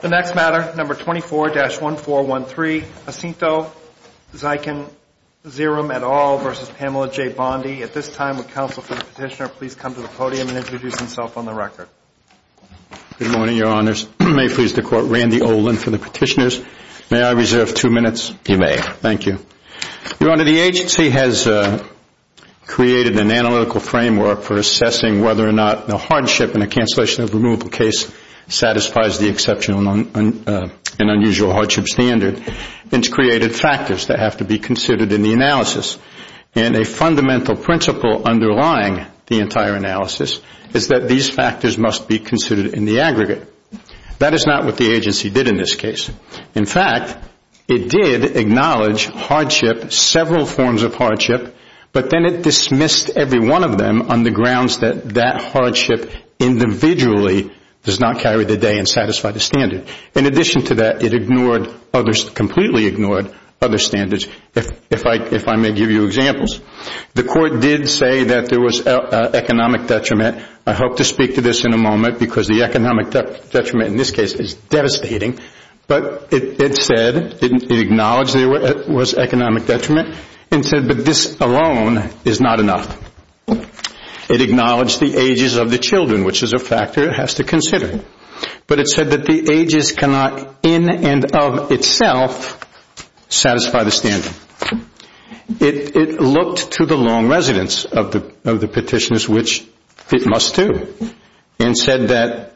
The next matter, number 24-1413, Jacinto Xiquin Xirum et al. v. Pamela J. Bondi. At this time, would counsel for the petitioner please come to the podium and introduce himself on the record. Good morning, Your Honors. May it please the Court, Randy Olin for the petitioners. May I reserve two minutes? You may. Thank you. Your Honor, the agency has created an analytical framework for assessing whether or not the hardship in a cancellation of removal case satisfies the exceptional and unusual hardship standard. It's created factors that have to be considered in the analysis. And a fundamental principle underlying the entire analysis is that these factors must be considered in the aggregate. That is not what the agency did in this case. In fact, it did acknowledge hardship, several forms of hardship, but then it dismissed every one of them on the grounds that that hardship individually does not carry the day and satisfy the standard. In addition to that, it ignored others, completely ignored other standards. If I may give you examples, the Court did say that there was economic detriment. I hope to speak to this in a moment because the economic detriment in this case is devastating. But it said, it acknowledged there was economic detriment and said, but this alone is not enough. It acknowledged the ages of the children, which is a factor it has to consider. But it said that the ages cannot in and of itself satisfy the standard. It looked to the long residence of the petitioners, which it must do, and said that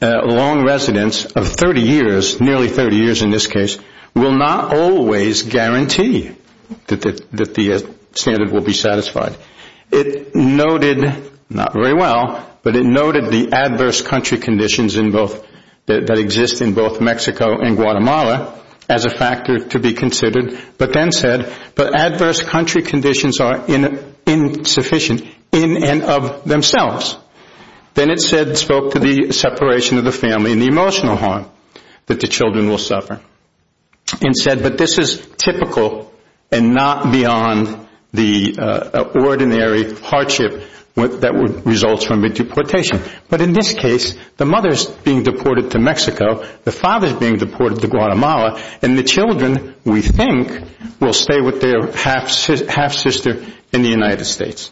long residence of 30 years, nearly 30 years in this case, will not always guarantee that the standard will be satisfied. It noted, not very well, but it noted the adverse country conditions that exist in both Mexico and Guatemala as a factor to be considered, but then said, but adverse country conditions are insufficient in and of themselves. Then it said, spoke to the separation of the family and the emotional harm that the children will suffer, and said, but this is typical and not beyond the ordinary hardship that results from a deportation. But in this case, the mother is being deported to Mexico, the father is being deported to Guatemala, and the children, we think, will stay with their half sister in the United States.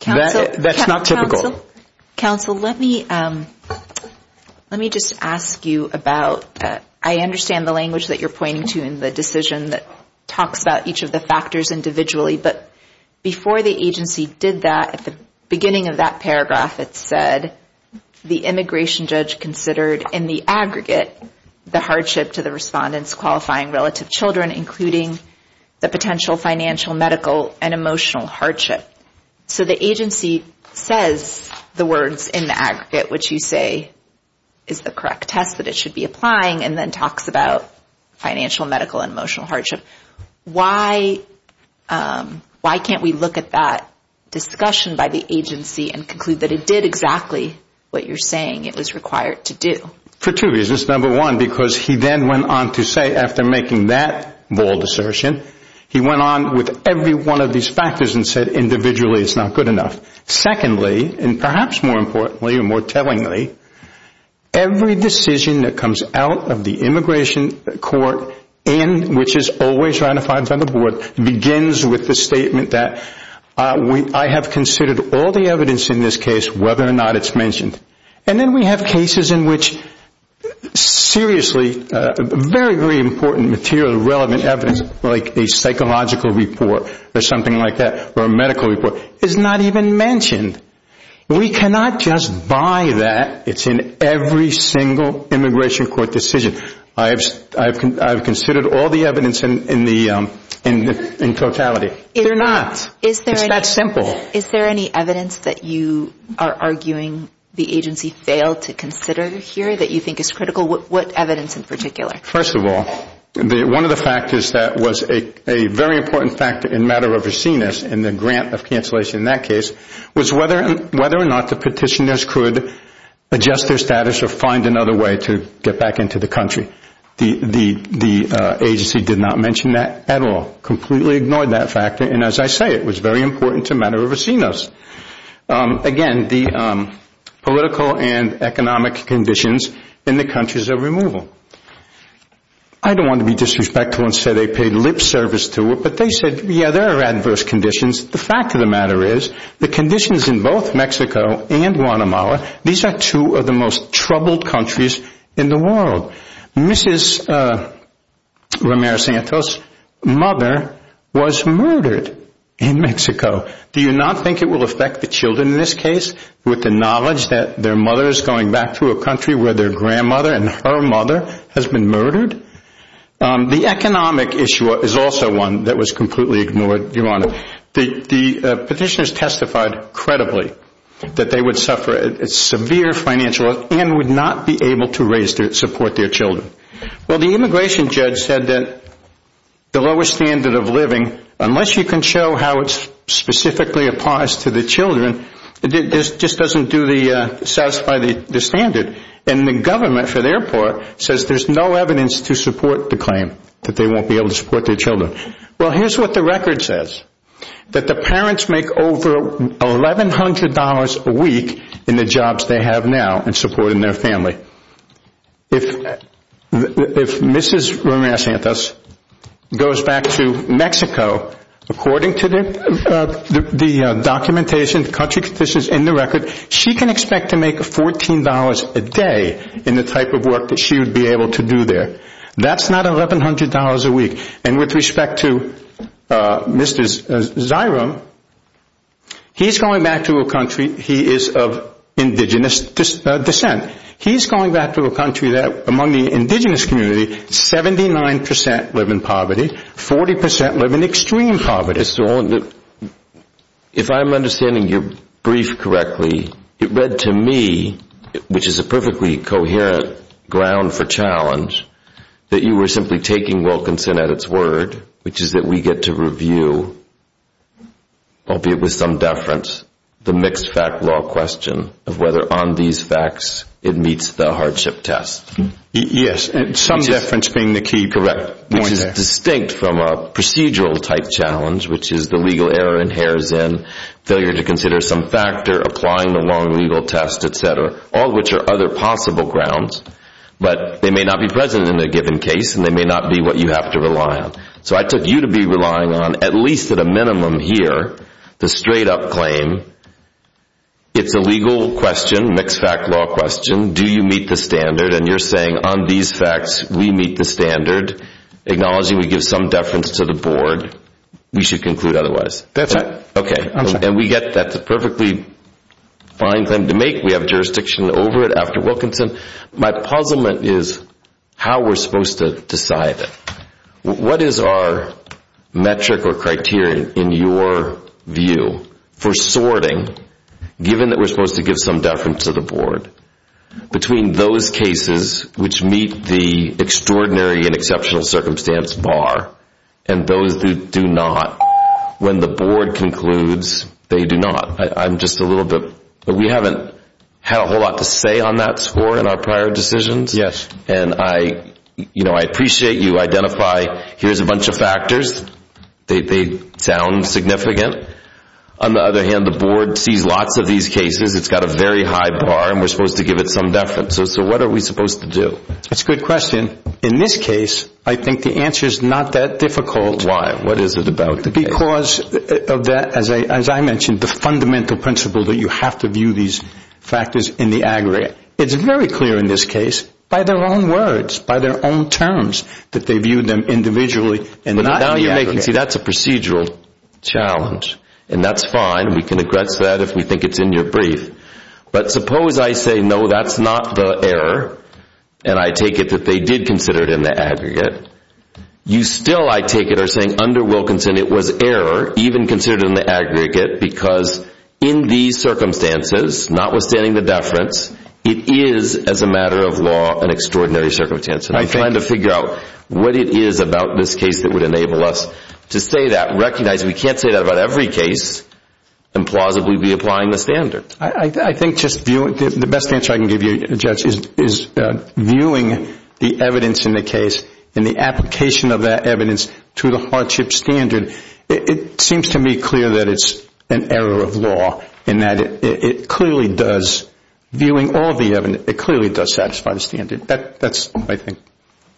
That's not typical. Counsel, let me just ask you about, I understand the language that you're pointing to in the decision that talks about each of the factors individually, but before the agency did that, at the beginning of that paragraph it said, the immigration judge considered in the aggregate the hardship to the respondents qualifying relative children, including the potential financial, medical, and emotional hardship. So the agency says the words in the aggregate, which you say is the correct test that it should be applying, and then talks about financial, medical, and emotional hardship. Why can't we look at that discussion by the agency and conclude that it did exactly what you're saying it was required to do? For two reasons. Number one, because he then went on to say, after making that bold assertion, he went on with every one of these factors and said individually it's not good enough. Secondly, and perhaps more importantly and more tellingly, every decision that comes out of the immigration court, and which is always ratified by the board, begins with the statement that I have considered all the evidence in this case, whether or not it's mentioned. And then we have cases in which seriously very, very important material, relevant evidence, like a psychological report or something like that, or a medical report, is not even mentioned. We cannot just buy that. It's in every single immigration court decision. I have considered all the evidence in totality. They're not. It's that simple. Is there any evidence that you are arguing the agency failed to consider here that you think is critical? What evidence in particular? First of all, one of the factors that was a very important factor in matter of overseen us and the grant of cancellation in that case was whether or not the petitioners could adjust their status or find another way to get back into the country. The agency did not mention that at all, completely ignored that factor, and as I say, it was very important to matter of overseen us. Again, the political and economic conditions in the countries of removal. I don't want to be disrespectful and say they paid lip service to it, but they said, yeah, there are adverse conditions. The fact of the matter is the conditions in both Mexico and Guatemala, these are two of the most troubled countries in the world. Mrs. Ramirez Santos' mother was murdered in Mexico. Do you not think it will affect the children in this case with the knowledge that their mother is going back to a country where their grandmother and her mother has been murdered? The economic issue is also one that was completely ignored, Your Honor. The petitioners testified credibly that they would suffer severe financial loss and would not be able to support their children. Well, the immigration judge said that the lowest standard of living, unless you can show how it's specifically applies to the children, it just doesn't satisfy the standard, and the government, for their part, says there's no evidence to support the claim that they won't be able to support their children. Well, here's what the record says, that the parents make over $1,100 a week in the jobs they have now in supporting their family. If Mrs. Ramirez Santos goes back to Mexico, according to the documentation, country conditions in the record, she can expect to make $14 a day in the type of work that she would be able to do there. That's not $1,100 a week. And with respect to Mr. Zyrum, he's going back to a country, he is of indigenous descent, he's going back to a country that among the indigenous community, 79% live in poverty, 40% live in extreme poverty. Mr. Olin, if I'm understanding your brief correctly, it read to me, which is a perfectly coherent ground for challenge, that you were simply taking Wilkinson at its word, which is that we get to review, albeit with some deference, the mixed fact law question of whether on these facts it meets the hardship test. Yes, and some deference being the key point there. Which is distinct from a procedural type challenge, which is the legal error in Harrison, failure to consider some factor, applying the wrong legal test, etc., all which are other possible grounds, but they may not be present in a given case, and they may not be what you have to rely on. So I took you to be relying on, at least at a minimum here, the straight up claim, it's a legal question, mixed fact law question, do you meet the standard, and you're saying on these facts we meet the standard, acknowledging we give some deference to the board, we should conclude otherwise. That's right. Okay, and we get that perfectly fine claim to make, we have jurisdiction over it after Wilkinson. My puzzlement is how we're supposed to decide it. What is our metric or criteria in your view for sorting, given that we're supposed to give some deference to the board, between those cases which meet the extraordinary and exceptional circumstance bar, and those that do not, when the board concludes they do not. I'm just a little bit, we haven't had a whole lot to say on that score in our prior decisions, and I appreciate you identify here's a bunch of factors, they sound significant. On the other hand, the board sees lots of these cases, it's got a very high bar, and we're supposed to give it some deference, so what are we supposed to do? That's a good question. In this case, I think the answer is not that difficult. Why, what is it about? Because of that, as I mentioned, the fundamental principle that you have to view these factors in the aggregate. It's very clear in this case, by their own words, by their own terms, that they viewed them individually and not in the aggregate. But now you're making, see that's a procedural challenge, and that's fine, we can address that if we think it's in your brief. But suppose I say no, that's not the error, and I take it that they did consider it in the aggregate. You still, I take it, are saying under Wilkinson it was error, even considered in the aggregate, because in these circumstances, notwithstanding the deference, it is, as a matter of law, an extraordinary circumstance. I'm trying to figure out what it is about this case that would enable us to say that, I recognize we can't say that about every case and plausibly be applying the standard. I think just viewing, the best answer I can give you, Judge, is viewing the evidence in the case and the application of that evidence to the hardship standard. It seems to me clear that it's an error of law in that it clearly does, viewing all the evidence, it clearly does satisfy the standard. That's my thing.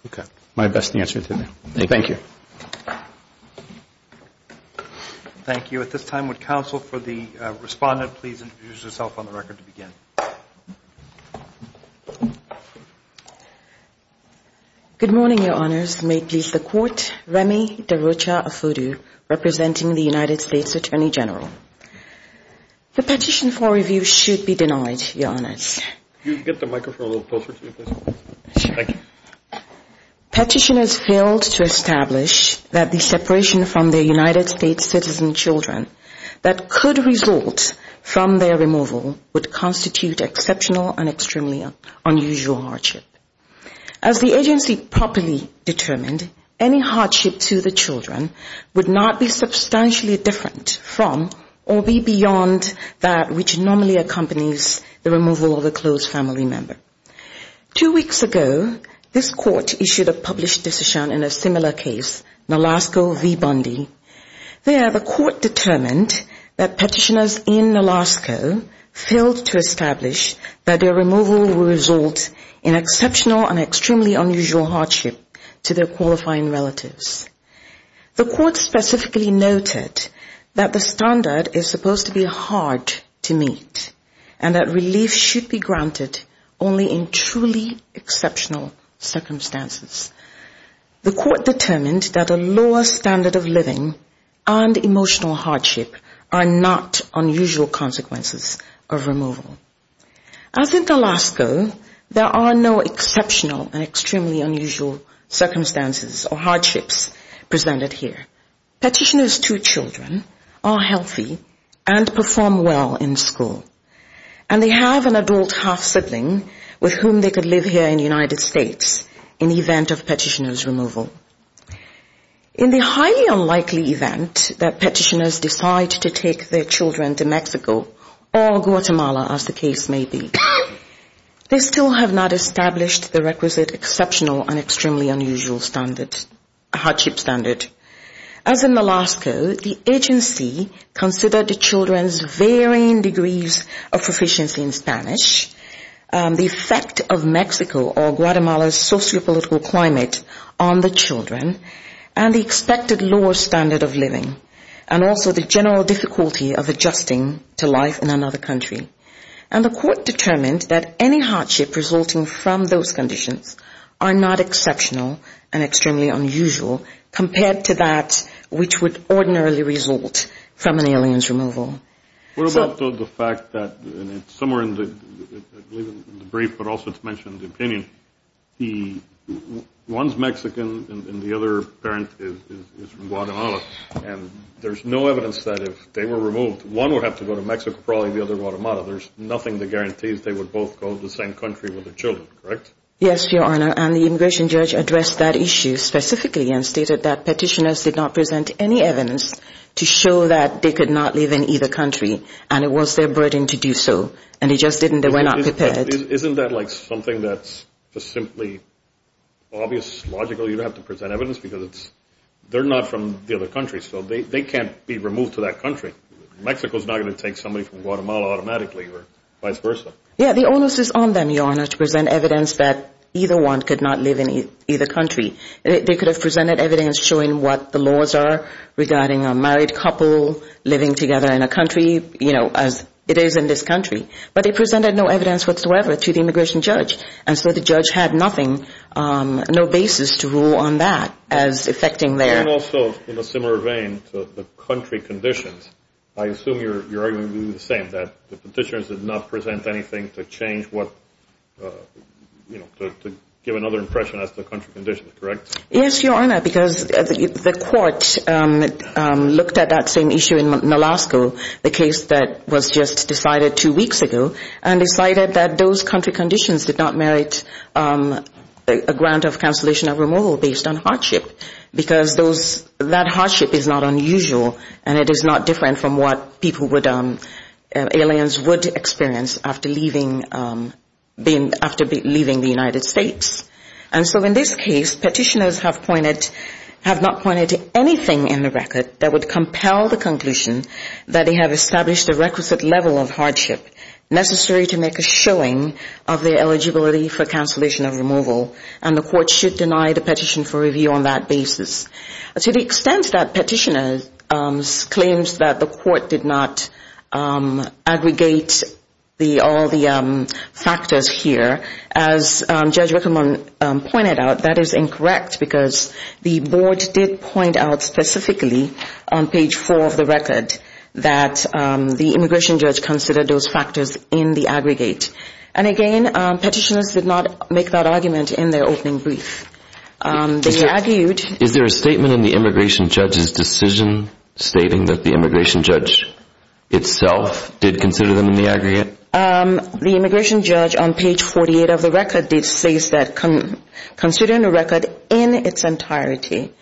Okay. My best answer to that. Thank you. Thank you. At this time, would counsel for the respondent please introduce herself on the record to begin. Good morning, Your Honors. May it please the Court. Remy DeRocha Afudu, representing the United States Attorney General. The petition for review should be denied, Your Honors. Could you get the microphone a little closer to me, please? Sure. Thank you. Petitioners failed to establish that the separation from their United States citizen children that could result from their removal would constitute exceptional and extremely unusual hardship. As the agency properly determined, any hardship to the children would not be substantially different from or be beyond that which normally accompanies the removal of a close family member. Two weeks ago, this Court issued a published decision in a similar case, Nalasco v. Bundy. There, the Court determined that petitioners in Nalasco failed to establish that their removal would result in exceptional and extremely unusual hardship to their qualifying relatives. The Court specifically noted that the standard is supposed to be hard to meet and that relief should be granted only in truly exceptional circumstances. The Court determined that a lower standard of living and emotional hardship are not unusual consequences of removal. As in Nalasco, there are no exceptional and extremely unusual circumstances or hardships presented here. Petitioners' two children are healthy and perform well in school, and they have an adult half-sibling with whom they could live here in the United States in the event of petitioner's removal. In the highly unlikely event that petitioners decide to take their children to Mexico or Guatemala, as the case may be, they still have not established the requisite exceptional and extremely unusual standards, hardship standard. As in Nalasco, the agency considered the children's varying degrees of proficiency in Spanish, the effect of Mexico or Guatemala's sociopolitical climate on the children, and the expected lower standard of living, and also the general difficulty of adjusting to life in another country. And the Court determined that any hardship resulting from those conditions are not exceptional and extremely unusual compared to that which would ordinarily result from an alien's removal. What about the fact that somewhere in the brief, but also it's mentioned in the opinion, one's Mexican and the other parent is from Guatemala, and there's no evidence that if they were removed, one would have to go to Mexico, probably the other, Guatemala. There's nothing that guarantees they would both go to the same country with their children, correct? Yes, Your Honor, and the immigration judge addressed that issue specifically and stated that petitioners did not present any evidence to show that they could not live in either country, and it was their burden to do so, and they just didn't, they were not prepared. Isn't that like something that's just simply obvious, logical, you don't have to present evidence, because it's, they're not from the other country, so they can't be removed to that country. Mexico's not going to take somebody from Guatemala automatically or vice versa. Yeah, the onus is on them, Your Honor, to present evidence that either one could not live in either country. They could have presented evidence showing what the laws are regarding a married couple living together in a country, you know, as it is in this country, but they presented no evidence whatsoever to the immigration judge, and so the judge had nothing, no basis to rule on that as affecting their... And also, in a similar vein to the country conditions, I assume your argument would be the same, that the petitioners did not present anything to change what, you know, to give another impression as to the country conditions, correct? Yes, Your Honor, because the court looked at that same issue in Alaska, the case that was just decided two weeks ago, and decided that those country conditions did not merit a grant of cancellation or removal based on hardship, because those, that hardship is not unusual, and it is not different from what people would, aliens would experience after leaving the United States. And so in this case, petitioners have pointed, have not pointed to anything in the record that would compel the conclusion that they have established a requisite level of hardship necessary to make a showing of their eligibility for cancellation or removal, and the court should deny the petition for review on that basis. To the extent that petitioners' claims that the court did not aggregate the, all the factors here, as Judge Rickleman pointed out, that is incorrect, because the board did point out specifically on page four of the record that the immigration judge considered those factors in the aggregate. And again, petitioners did not make that argument in their opening brief. They argued... Is there a statement in the immigration judge's decision stating that the immigration judge itself did consider them in the aggregate? The immigration judge on page 48 of the record did say that considering the record in its entirety,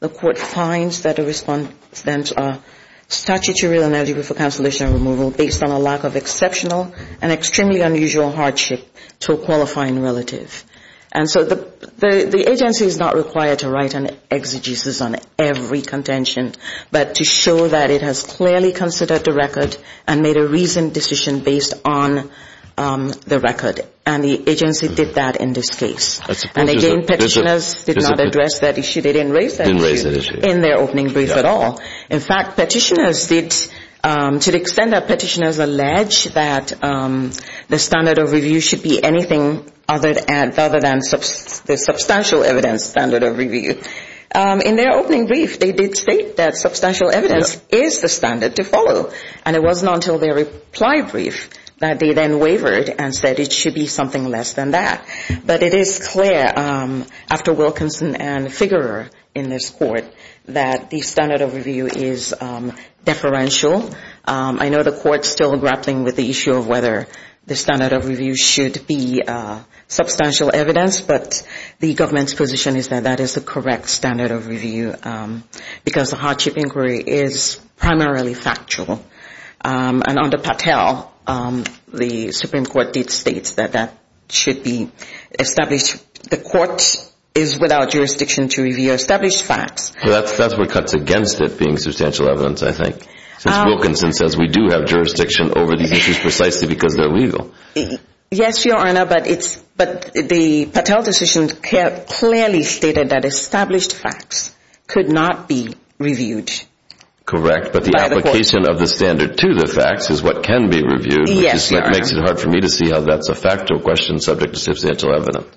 the court finds that a statutory eligibility for cancellation or removal based on a lack of exceptional and extremely unusual hardship to a qualifying relative. And so the agency is not required to write an exegesis on every contention, but to show that it has clearly considered the record and made a reasoned decision based on the record, and the agency did that in this case. And again, petitioners did not address that issue. They didn't raise that issue in their opening brief at all. In fact, petitioners did, to the extent that petitioners allege that the standard of review should be anything other than the substantial evidence standard of review. In their opening brief, they did state that substantial evidence is the standard to follow. And it wasn't until their reply brief that they then wavered and said it should be something less than that. But it is clear, after Wilkinson and Figurer in this court, that the standard of review is deferential. I know the court's still grappling with the issue of whether the standard of review should be substantial evidence, but the government's position is that that is the correct standard of review, because the hardship inquiry is primarily factual. And under Patel, the Supreme Court did state that that should be established. The court is without jurisdiction to review established facts. That's what cuts against it being substantial evidence, I think, since Wilkinson says we do have jurisdiction over these issues precisely because they're legal. Yes, Your Honor, but the Patel decision clearly stated that established facts could not be reviewed. Correct, but the application of the standard to the facts is what can be reviewed, which makes it hard for me to see how that's a factual question subject to substantial evidence.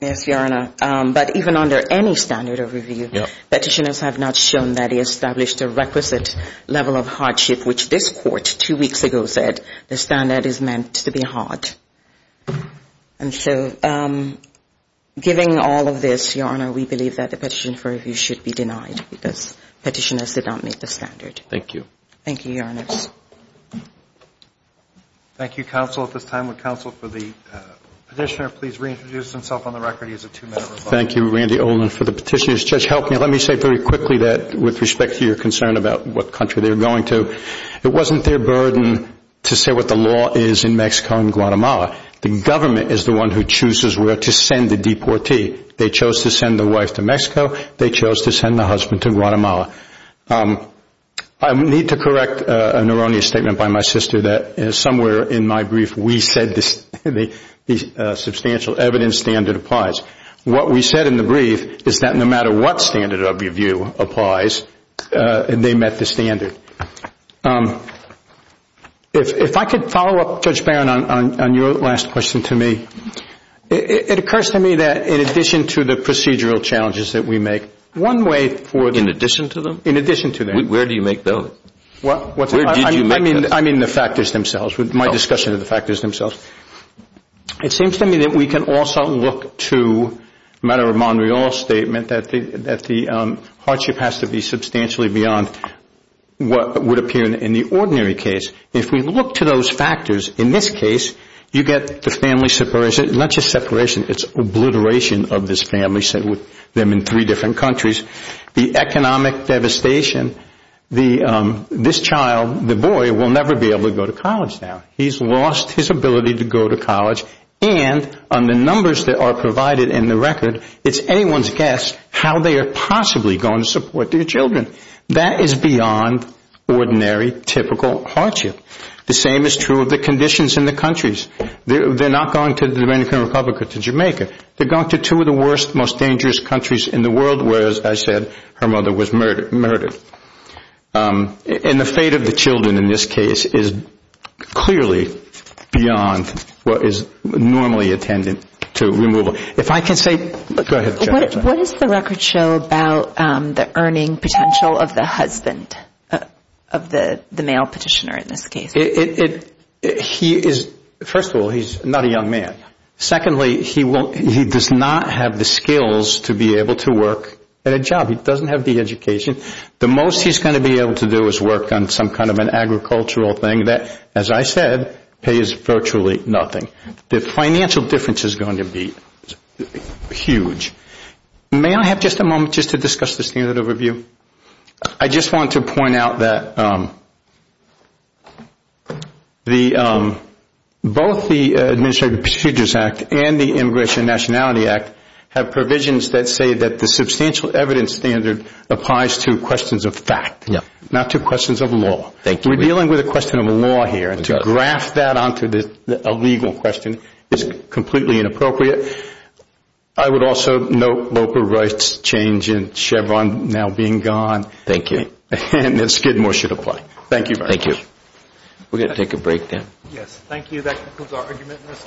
Yes, Your Honor, but even under any standard of review, petitioners have not shown that it established a requisite level of hardship, which this court two weeks ago said the standard is meant to be hard. And so giving all of this, Your Honor, we believe that the petition for review should be denied. Because petitioners, they don't meet the standard. Thank you, Your Honor. Thank you, counsel, at this time would counsel for the petitioner please reintroduce himself on the record. He has a two-minute rebuttal. Thank you, Randy Olin, for the petition. It wasn't their burden to say what the law is in Mexico and Guatemala. The government is the one who chooses where to send the deportee. They chose to send the wife to Mexico. They chose to send the husband to Guatemala. I need to correct an erroneous statement by my sister that somewhere in my brief we said the substantial evidence standard applies. What we said in the brief is that no matter what standard of review applies, they met the standard. If I could follow up, Judge Barron, on your last question to me. It occurs to me that in addition to the procedural challenges that we make, one way for the family to be separated from their children, one way for the family to be separated from their children, there are other factors that are involved in addition to them? In addition to them. Where do you make those? I mean the factors themselves, my discussion of the factors themselves. It seems to me that we can also look to a matter of Montreal statement that the hardship has to be substantially beyond what would appear in the ordinary case. If we look to those factors, in this case, you get the family separation, not just separation, it's obliteration of this family. The economic devastation, this child, the boy, will never be able to go to college now. He's lost his ability to go to college, and on the numbers that are provided in the record, it's anyone's guess how they are possibly going to support their children. That is beyond ordinary, typical hardship. The same is true of the conditions in the countries. They're not going to the Dominican Republic or Jamaica. They're going to two of the worst, most dangerous countries in the world, where, as I said, her mother was murdered. And the fate of the children in this case is clearly beyond what is normally attended to removal. If I can say, go ahead. What does the record show about the earning potential of the husband, of the male petitioner in this case? First of all, he's not a young man. Secondly, he does not have the skills to be able to work at a job. He doesn't have the education. The most he's going to be able to do is work on some kind of an agricultural thing that, as I said, pays virtually nothing. The financial difference is going to be huge. May I have just a moment just to discuss the standard overview? I just want to point out that both the Administrative Procedures Act and the Immigration and Nationality Act have provisions that say that the substantial evidence standard applies to questions of fact, not to questions of law. We're dealing with a question of law here, and to graph that onto a legal question is completely inappropriate. I would also note local rights change and Chevron now being gone, and that Skidmore should apply. Thank you very much.